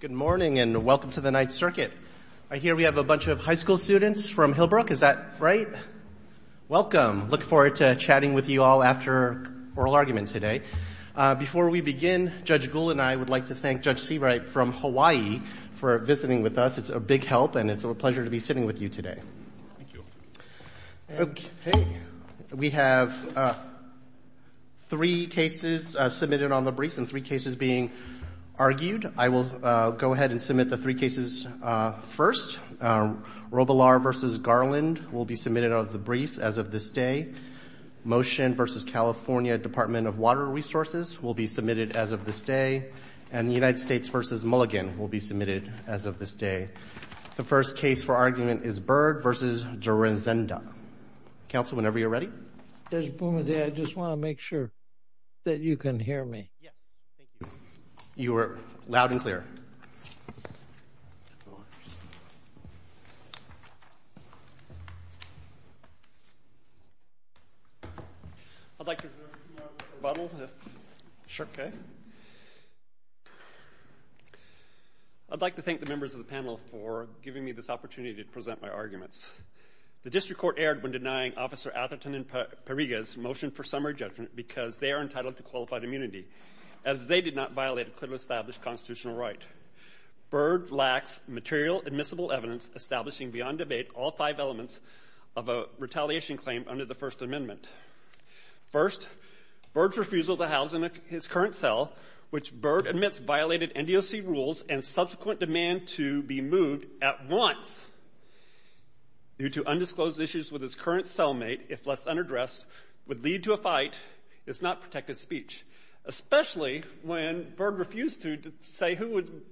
Good morning and welcome to the Ninth Circuit. I hear we have a bunch of high school students from Hillbrook, is that right? Welcome. I look forward to chatting with you all after oral argument today. Before we begin, Judge Gould and I would like to thank Judge Seawright from Hawaii for visiting with us. It's a big help and it's a pleasure to be sitting with you today. Thank you. Okay. We have three cases submitted on the brief and three cases being argued. I will go ahead and submit the three cases first. Robilar v. Garland will be submitted on the brief as of this day. Motion v. California Department of Water Resources will be submitted as of this day. And the United States v. Mulligan will be submitted as of this day. The first case for argument is Byrd v. Dzurenda. Counsel, whenever you're ready. Judge Boumediere, I just want to make sure that you can hear me. Yes. Thank you. You are loud and clear. I'd like to review our rebuttal. Sure. Okay. I'd like to thank the members of the panel for giving me this opportunity to present my arguments. The district court erred when denying Officer Atherton and Parriga's motion for summary judgment because they are entitled to qualified immunity, as they did not violate a clearly established constitutional right. Byrd lacks material admissible evidence establishing beyond debate all five elements of a retaliation claim under the First Amendment. First, Byrd's refusal to house in his current cell, which Byrd admits violated NDOC rules and subsequent demand to be moved at once due to undisclosed issues with his current cellmate, if left unaddressed, would lead to a fight. It's not protected speech, especially when Byrd refused to say who would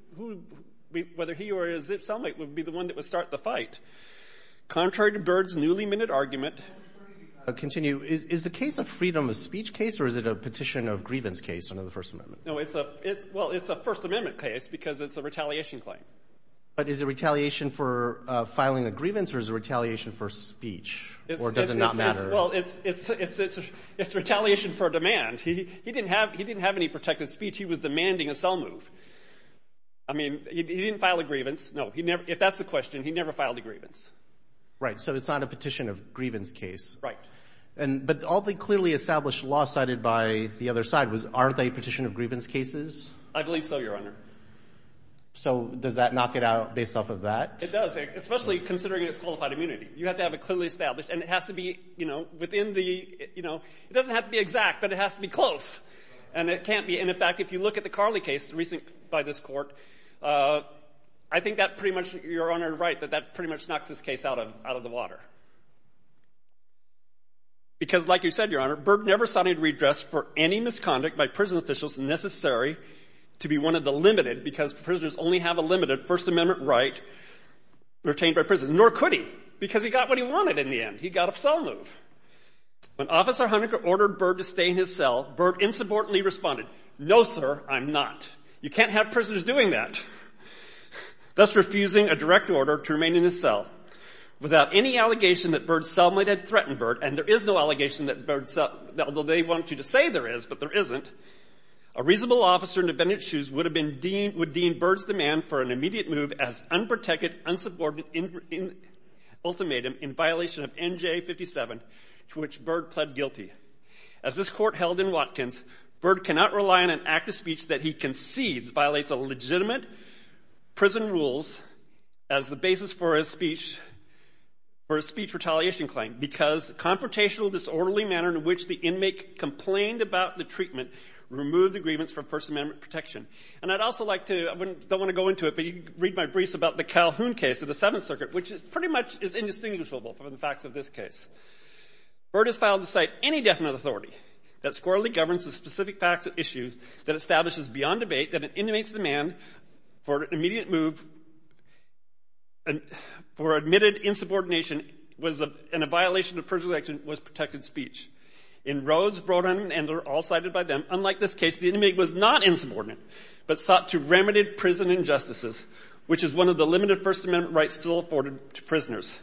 be, whether he or his cellmate would be the one that would start the fight. Contrary to Byrd's newly-minted argument. Continue. Is the case of freedom of speech case, or is it a petition of grievance case under the First Amendment? No, it's a First Amendment case because it's a retaliation claim. But is it retaliation for filing a grievance, or is it retaliation for speech, or does it not matter? Well, it's retaliation for demand. He didn't have any protected speech. He was demanding a cell move. I mean, he didn't file a grievance. No, if that's the question, he never filed a grievance. Right. So it's not a petition of grievance case. Right. But all the clearly established law cited by the other side was, are they petition of grievance cases? I believe so, Your Honor. So does that knock it out based off of that? It does, especially considering it's qualified immunity. You have to have it clearly established, and it has to be, you know, within the, you know, it doesn't have to be exact, but it has to be close. And it can't be. And, in fact, if you look at the Carley case, the recent by this Court, I think that pretty much, Your Honor, right, that that pretty much knocks this case out of the water. Because, like you said, Your Honor, Berg never sought any redress for any misconduct by prison officials necessary to be one of the limited, because prisoners only have a limited First Amendment right retained by prison. Nor could he, because he got what he wanted in the end. He got a cell move. When Officer Honecker ordered Berg to stay in his cell, Berg insubordinately responded, no, sir, I'm not. You can't have prisoners doing that, thus refusing a direct order to remain in his cell. Without any allegation that Berg's cellmate had threatened Berg, and there is no allegation that Berg's cellmate, although they want you to say there is, but there isn't, a reasonable officer in abandoned shoes would have been deemed, would deem Berg's demand for an immediate move as unprotected, unsubordinate ultimatum in violation of NJ57, to which Berg pled guilty. As this Court held in Watkins, Berg cannot rely on an act of speech that he concedes violates a legitimate prison rules as the basis for his speech, for his speech retaliation claim, because confrontational disorderly manner in which the inmate complained about the treatment removed the grievance for First Amendment protection. And I'd also like to, I don't want to go into it, but you can read my briefs about the Calhoun case of the Seventh Circuit, which pretty much is indistinguishable from the facts of this case. Berg has filed to cite any definite authority that squarely governs the specific facts of issues that establishes beyond debate that an inmate's demand for an immediate move for admitted insubordination was, in a violation of prison election, was protected speech. In Rhodes, Brodin, and they're all cited by them, unlike this case, the inmate was not insubordinate, but sought to remedy prison injustices, which is one of the limited First Amendment rights still afforded to prisoners.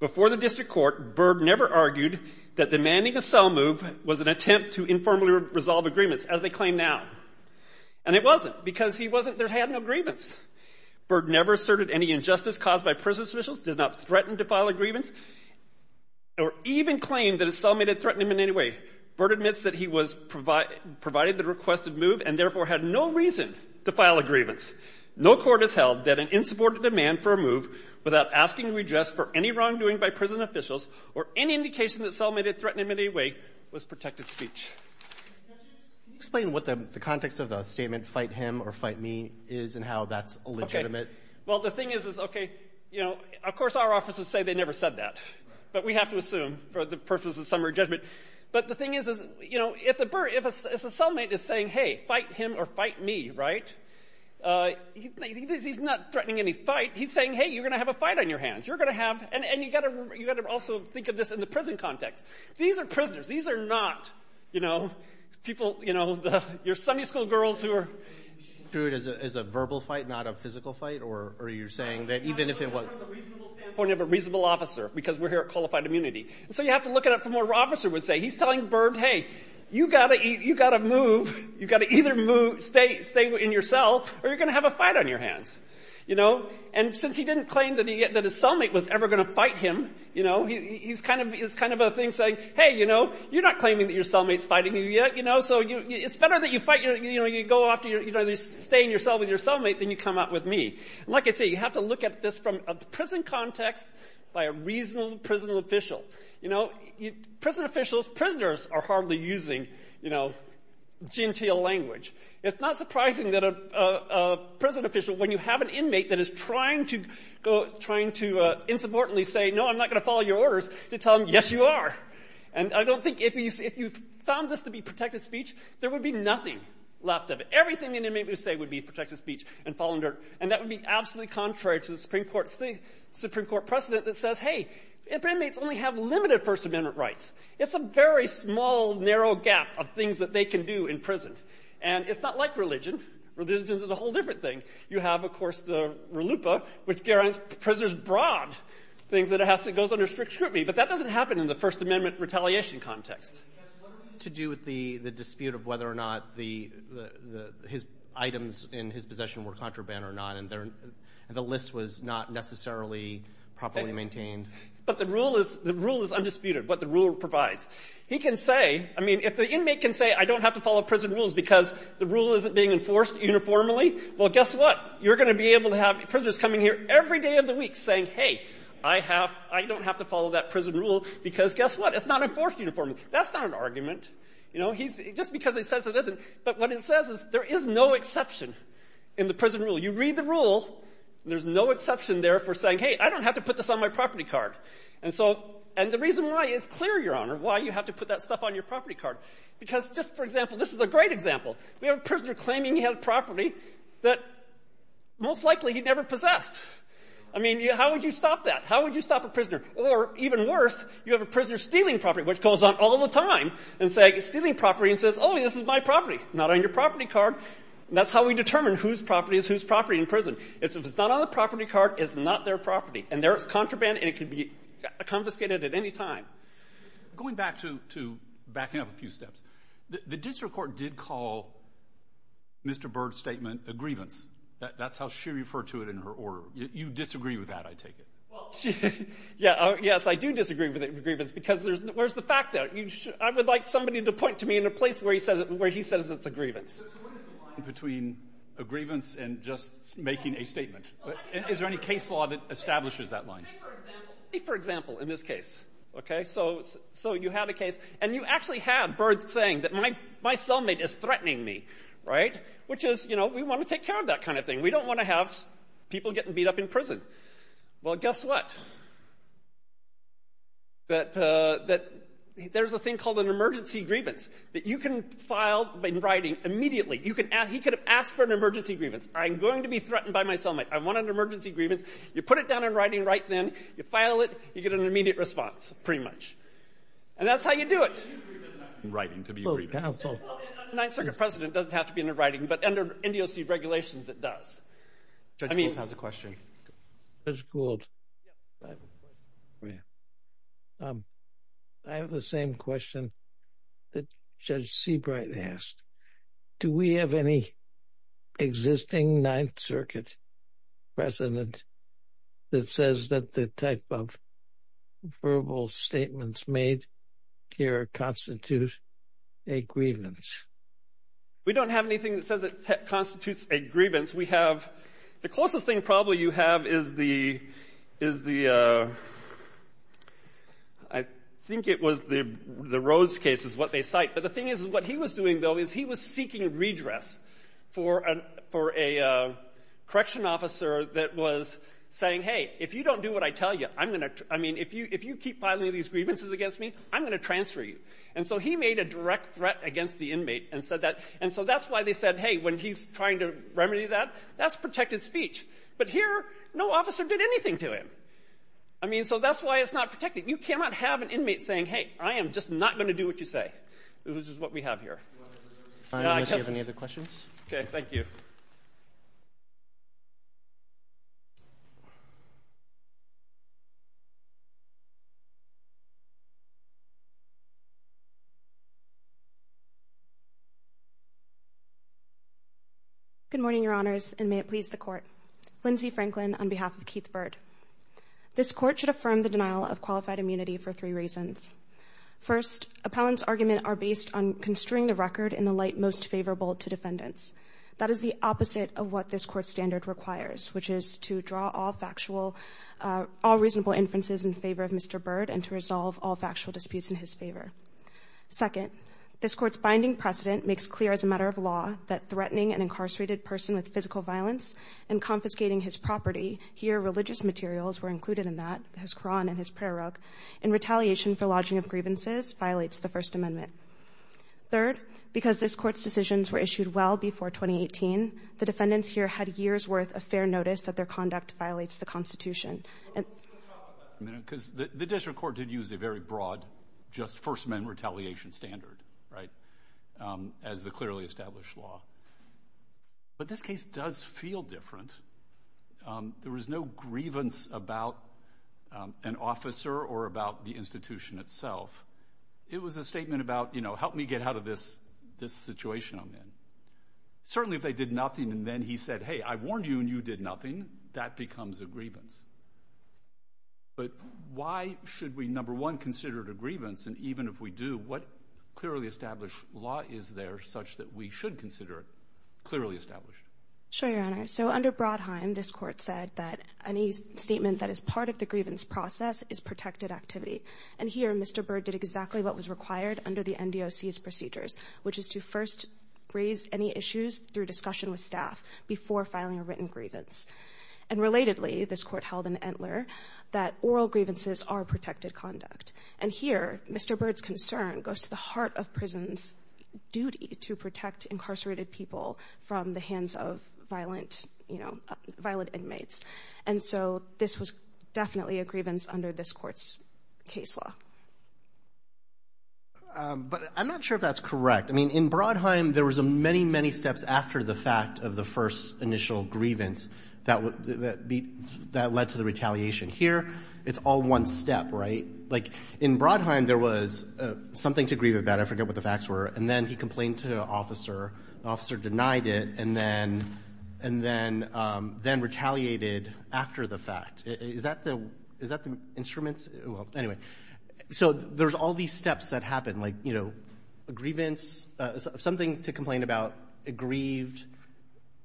Before the district court, Berg never argued that demanding a cell move was an attempt to informally resolve agreements, as they claim now. And it wasn't, because he wasn't, there had no grievance. Berg never asserted any injustice caused by prison officials, did not threaten to file a grievance, or even claimed that a cellmate had threatened him in any way. Berg admits that he was provided the requested move and, therefore, had no reason to file a grievance. No court has held that an insubordinate demand for a move without asking to redress for any wrongdoing by prison officials or any indication that cellmate had threatened him in any way was protected speech. Can you explain what the context of the statement, fight him or fight me, is and how that's legitimate? Okay. Well, the thing is, is, okay, you know, of course our officers say they never said that, but we have to assume for the purposes of summary judgment. But the thing is, you know, if the cellmate is saying, hey, fight him or fight me, right, he's not threatening any fight. He's saying, hey, you're going to have a fight on your hands. You're going to have, and you've got to also think of this in the prison context. These are prisoners. These are not, you know, people, you know, your Sunday school girls who are. Do it as a verbal fight, not a physical fight? Or are you saying that even if it was. From the point of a reasonable officer, because we're here at Qualified Immunity. So you have to look at it from what an officer would say. He's telling Byrd, hey, you've got to move, you've got to either move, stay in your cell, or you're going to have a fight on your hands, you know. And since he didn't claim that his cellmate was ever going to fight him, you know, he's kind of a thing saying, hey, you know, you're not claiming that your cellmate's fighting you yet, you know. So it's better that you fight, you know, you go after, you know, stay in your cell with your cellmate than you come out with me. And like I say, you have to look at this from a prison context by a reasonable prison official. You know, prison officials, prisoners are hardly using, you know, genteel language. It's not surprising that a prison official, when you have an inmate that is trying to insubordinately say, no, I'm not going to follow your orders, to tell them, yes, you are. And I don't think if you found this to be protected speech, there would be nothing left of it. Everything an inmate would say would be protected speech and fallen dirt. And that would be absolutely contrary to the Supreme Court precedent that says, hey, inmates only have limited First Amendment rights. It's a very small, narrow gap of things that they can do in prison. And it's not like religion. Religion is a whole different thing. You have, of course, the RLUIPA, which guarantees prisoners broad things that it has to go under strict scrutiny. But that doesn't happen in the First Amendment retaliation context. What are you to do with the dispute of whether or not his items in his possession were contraband or not, and the list was not necessarily properly maintained? But the rule is undisputed, what the rule provides. He can say, I mean, if the inmate can say, I don't have to follow prison rules because the rule isn't being enforced uniformly, well, guess what? You're going to be able to have prisoners coming here every day of the week saying, hey, I don't have to follow that prison rule because guess what? It's not enforced uniformly. That's not an argument. You know, just because it says it isn't. But what it says is there is no exception in the prison rule. You read the rule, and there's no exception there for saying, hey, I don't have to put this on my property card. And so the reason why it's clear, Your Honor, why you have to put that stuff on your property card, because just for example, this is a great example. We have a prisoner claiming he had property that most likely he never possessed. I mean, how would you stop that? How would you stop a prisoner? Or even worse, you have a prisoner stealing property, which goes on all the time, and saying, stealing property, and says, oh, this is my property. Not on your property card. That's how we determine whose property is whose property in prison. If it's not on the property card, it's not their property. And there is contraband, and it can be confiscated at any time. Going back to backing up a few steps, the district court did call Mr. Byrd's statement a grievance. That's how she referred to it in her order. You disagree with that, I take it. Well, yes, I do disagree with the grievance because there's the fact that I would like somebody to point to me in a place where he says it's a grievance. So what is the line between a grievance and just making a statement? Is there any case law that establishes that line? Say, for example, in this case. Okay? So you have a case, and you actually have Byrd saying that my cellmate is threatening me. Right? Which is, you know, we want to take care of that kind of thing. We don't want to have people getting beat up in prison. Well, guess what? That there's a thing called an emergency grievance that you can file in writing immediately. He could have asked for an emergency grievance. I'm going to be threatened by my cellmate. I want an emergency grievance. You put it down in writing right then. You file it. You get an immediate response, pretty much. And that's how you do it. In writing to be a grievance. A Ninth Circuit precedent doesn't have to be in writing, but under NDOC regulations it does. Judge Gould has a question. Judge Gould. Yes. I have a question for you. I have the same question that Judge Seabright asked. Do we have any existing Ninth Circuit precedent that says that the type of verbal statements made here constitute a grievance? We don't have anything that says it constitutes a grievance. We have the closest thing probably you have is the ‑‑ I think it was the Rhodes case is what they cite. But the thing is what he was doing, though, is he was seeking redress for a correction officer that was saying, hey, if you don't do what I tell you, I'm going to ‑‑ I mean, if you keep filing these grievances against me, I'm going to transfer you. And so he made a direct threat against the inmate and said that. And so that's why they said, hey, when he's trying to remedy that, that's protected speech. But here no officer did anything to him. I mean, so that's why it's not protected. You cannot have an inmate saying, hey, I am just not going to do what you say, which is what we have here. Fine. Unless you have any other questions. Okay. Thank you. Good morning, Your Honors, and may it please the Court. Lindsay Franklin on behalf of Keith Byrd. This Court should affirm the denial of qualified immunity for three reasons. First, appellants' arguments are based on construing the record in the light most favorable to defendants. That is the opposite of what this Court's standard requires, which is to draw all factual ‑‑ all reasonable inferences in favor of Mr. Byrd and to resolve all factual disputes in his favor. Second, this Court's binding precedent makes clear as a matter of law that threatening an incarcerated person with physical violence and confiscating his property, here religious materials were included in that, his Quran and his prayer rug, in retaliation for lodging of grievances violates the First Amendment. Third, because this Court's decisions were issued well before 2018, the defendants here had years' worth of fair notice that their conduct violates the Constitution. Let's talk about that for a minute, because the district court did use a very broad just First Amendment retaliation standard, right, as the clearly established law. But this case does feel different. There was no grievance about an officer or about the institution itself. It was a statement about, you know, help me get out of this situation I'm in. Certainly if they did nothing and then he said, hey, I warned you and you did nothing, that becomes a grievance. But why should we, number one, consider it a grievance? And even if we do, what clearly established law is there such that we should consider it clearly established? Sure, Your Honor. So under Brodheim, this Court said that any statement that is part of the grievance process is protected activity. And here Mr. Byrd did exactly what was required under the NDOC's procedures, which is to first raise any issues through discussion with staff before filing a written grievance. And relatedly, this Court held in Entler that oral grievances are protected conduct. And here Mr. Byrd's concern goes to the heart of prison's duty to protect incarcerated people from the hands of violent, you know, violent inmates. And so this was definitely a grievance under this Court's case law. But I'm not sure if that's correct. I mean, in Brodheim, there was many, many steps after the fact of the first initial grievance that led to the retaliation. Here, it's all one step, right? Like, in Brodheim, there was something to grieve about. I forget what the facts were. And then he complained to an officer. The officer denied it and then retaliated after the fact. Is that the instruments? Well, anyway. So there's all these steps that happen. Like, you know, a grievance. Something to complain about. It grieved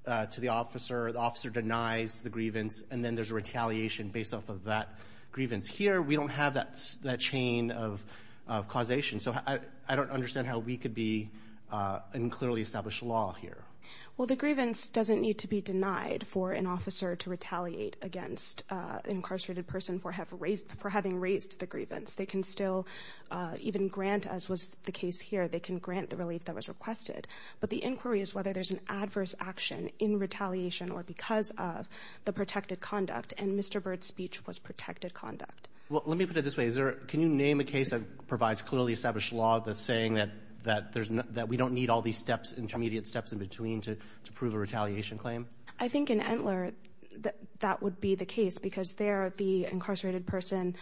to the officer. The officer denies the grievance. And then there's a retaliation based off of that grievance. Here, we don't have that chain of causation. So I don't understand how we could be in clearly established law here. Well, the grievance doesn't need to be denied for an officer to retaliate against an incarcerated person for having raised the grievance. They can still even grant, as was the case here, they can grant the relief that was requested. But the inquiry is whether there's an adverse action in retaliation or because of the protected conduct. And Mr. Bird's speech was protected conduct. Well, let me put it this way. Can you name a case that provides clearly established law that's saying that we don't need all these steps, intermediate steps in between, to prove a retaliation claim? I think in Entler, that would be the case because there, the incarcerated person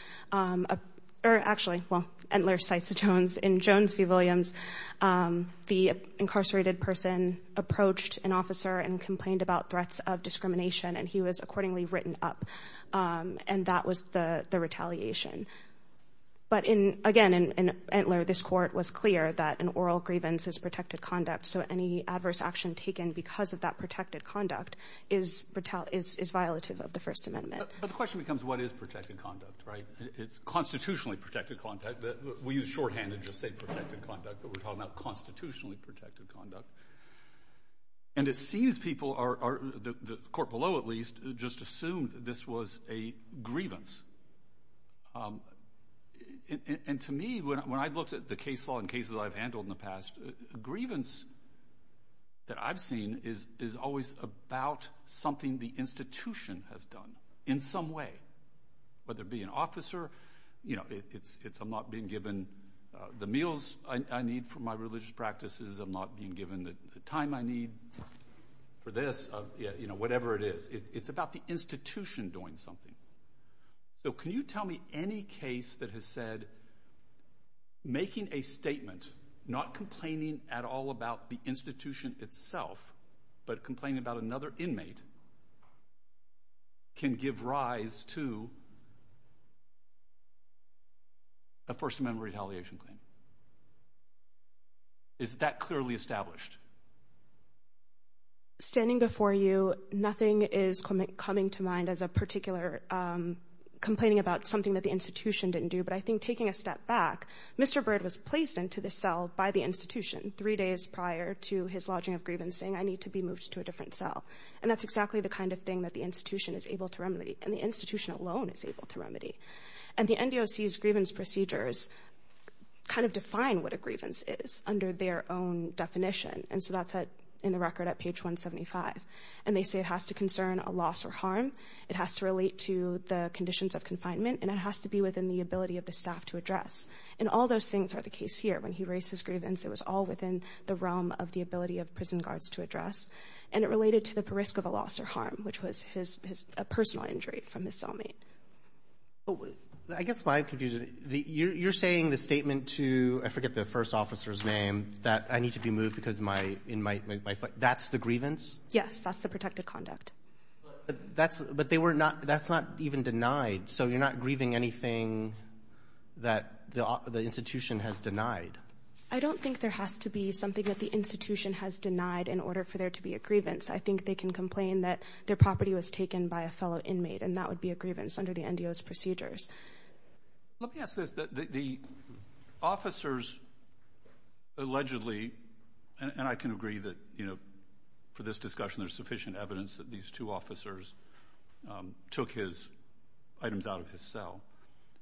or actually, well, Entler cites Jones. In Jones v. Williams, the incarcerated person approached an officer and complained about threats of discrimination, and he was accordingly written up. And that was the retaliation. But again, in Entler, this court was clear that an oral grievance is protected conduct, so any adverse action taken because of that protected conduct is violative of the First Amendment. But the question becomes what is protected conduct, right? It's constitutionally protected conduct. We use shorthand to just say protected conduct, but we're talking about constitutionally protected conduct. And it seems people are, the court below at least, just assumed this was a grievance. And to me, when I looked at the case law and cases I've handled in the past, grievance that I've seen is always about something the institution has done in some way, whether it be an officer. You know, it's I'm not being given the meals I need for my religious practices. I'm not being given the time I need for this, you know, whatever it is. It's about the institution doing something. So can you tell me any case that has said making a statement, not complaining at all about the institution itself, but complaining about another inmate can give rise to a First Amendment retaliation claim? Is that clearly established? Standing before you, nothing is coming to mind as a particular complaining about something that the institution didn't do, but I think taking a step back, Mr. Bird was placed into the cell by the institution three days prior to his lodging of grievance, saying I need to be moved to a different cell. And that's exactly the kind of thing that the institution is able to remedy. And the institution alone is able to remedy. And the NDOC's grievance procedures kind of define what a grievance is under their own definition. And so that's in the record at page 175. And they say it has to concern a loss or harm. It has to relate to the conditions of confinement. And it has to be within the ability of the staff to address. And all those things are the case here. When he raised his grievance, it was all within the realm of the ability of prison guards to address. And it related to the risk of a loss or harm, which was his personal injury from his cellmate. I guess my confusion, you're saying the statement to, I forget the first officer's name, that I need to be moved because my – that's the grievance? Yes, that's the protected conduct. But they were not – that's not even denied. So you're not grieving anything that the institution has denied? I don't think there has to be something that the institution has denied in order for there to be a grievance. I think they can complain that their property was taken by a fellow inmate, and that would be a grievance under the NDO's procedures. Let me ask this. The officers allegedly – and I can agree that, you know, for this discussion, there's sufficient evidence that these two officers took his items out of his cell.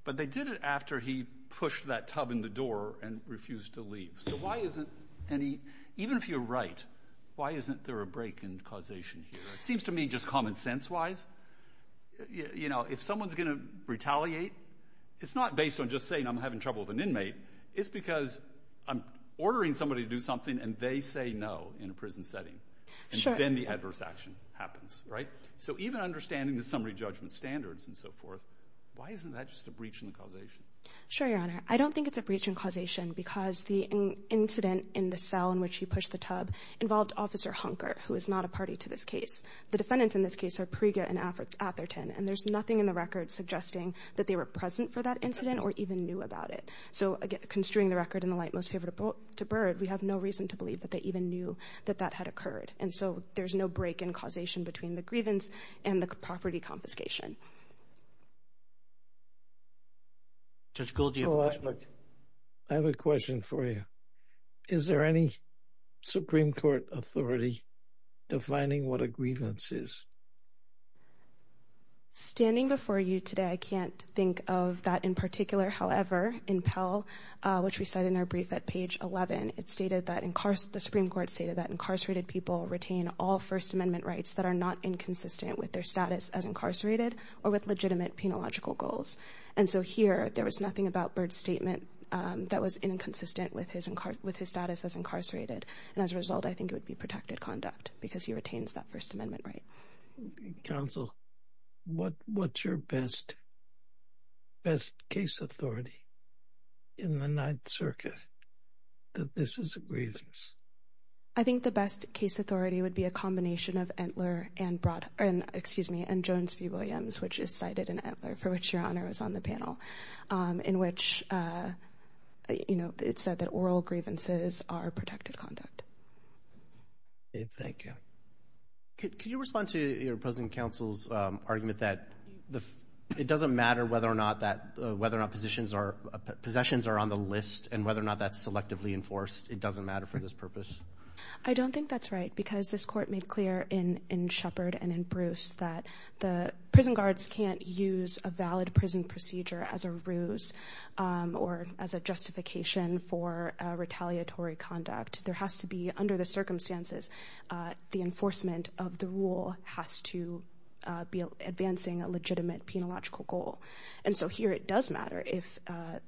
But they did it after he pushed that tub in the door and refused to leave. So why isn't any – even if you're right, why isn't there a break in causation here? It seems to me just common sense-wise, you know, if someone's going to retaliate, it's not based on just saying I'm having trouble with an inmate. It's because I'm ordering somebody to do something, and they say no in a prison setting. Sure. And then the adverse action happens, right? So even understanding the summary judgment standards and so forth, why isn't that just a breach in the causation? Sure, Your Honor. I don't think it's a breach in causation because the incident in the cell in which he pushed the tub involved Officer Hunker, who is not a party to this case. The defendants in this case are Priega and Atherton, and there's nothing in the record suggesting that they were present for that incident or even knew about it. So, again, construing the record in the light most favorable to Byrd, we have no reason to believe that they even knew that that had occurred. And so there's no break in causation between the grievance and the property confiscation. Judge Gould, do you have a question? I have a question for you. Is there any Supreme Court authority defining what a grievance is? Standing before you today, I can't think of that in particular. However, in Pell, which we cite in our brief at page 11, it stated that the Supreme Court stated that incarcerated people retain all First Amendment rights that are not inconsistent with their status as incarcerated or with legitimate penological goals. And so here there was nothing about Byrd's statement that was inconsistent with his status as incarcerated. And as a result, I think it would be protected conduct because he retains that First Amendment right. Counsel, what's your best case authority in the Ninth Circuit that this is a grievance? I think the best case authority would be a combination of Entler and Jones v. Williams, which is cited in Entler, for which Your Honor was on the panel, in which it said that oral grievances are protected conduct. Thank you. Could you respond to your opposing counsel's argument that it doesn't matter whether or not possessions are on the list and whether or not that's selectively enforced? It doesn't matter for this purpose? I don't think that's right because this Court made clear in Shepard and in Bruce that the prison guards can't use a valid prison procedure as a ruse or as a justification for retaliatory conduct. There has to be, under the circumstances, the enforcement of the rule has to be advancing a legitimate penological goal. And so here it does matter. If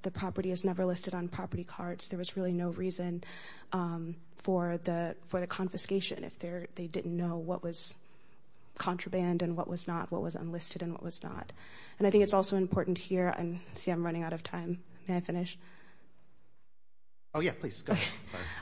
the property is never listed on property cards, there was really no reason for the confiscation if they didn't know what was contraband and what was not, what was unlisted and what was not. And I think it's also important here. I see I'm running out of time. May I finish? Oh, yeah, please.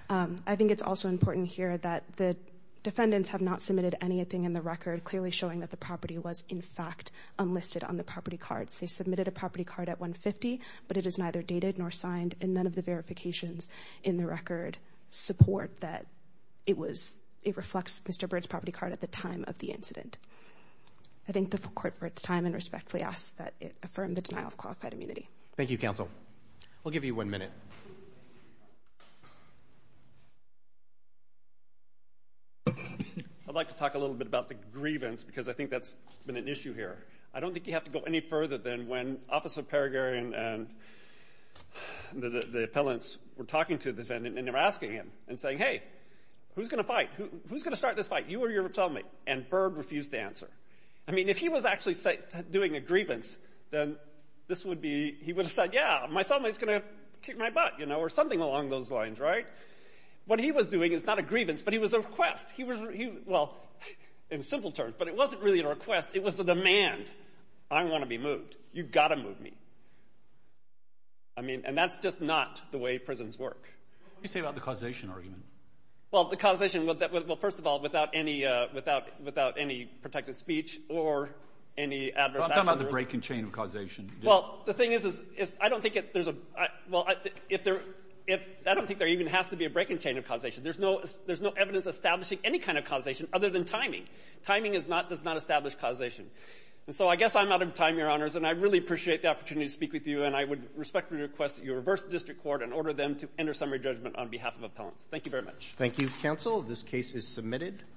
I think it's also important here that the defendants have not submitted anything in the record clearly showing that the property was, in fact, unlisted on the property cards. They submitted a property card at 150, but it is neither dated nor signed, and none of the verifications in the record support that it reflects Mr. Bird's property card at the time of the incident. I thank the Court for its time and respectfully ask that it affirm the denial of qualified immunity. Thank you, Counsel. We'll give you one minute. I'd like to talk a little bit about the grievance because I think that's been an issue here. I don't think you have to go any further than when Officer Peregrin and the appellants were talking to the defendant and they were asking him and saying, Hey, who's going to fight? Who's going to start this fight, you or your fellow mate? And Bird refused to answer. I mean, if he was actually doing a grievance, then he would have said, Yeah, my fellow mate's going to kick my butt or something along those lines, right? What he was doing is not a grievance, but he was a request. Well, in simple terms, but it wasn't really a request. It was a demand. I want to be moved. You've got to move me. And that's just not the way prisons work. What do you say about the causation argument? Well, the causation, well, first of all, without any protected speech or any adverse action. I'm talking about the break-in chain of causation. Well, the thing is, I don't think there even has to be a break-in chain of causation. There's no evidence establishing any kind of causation other than timing. Timing does not establish causation. And so I guess I'm out of time, Your Honors, and I really appreciate the opportunity to speak with you. And I would respectfully request that you reverse the district court and order them to enter summary judgment on behalf of appellants. Thank you very much. Thank you, counsel. This case is submitted.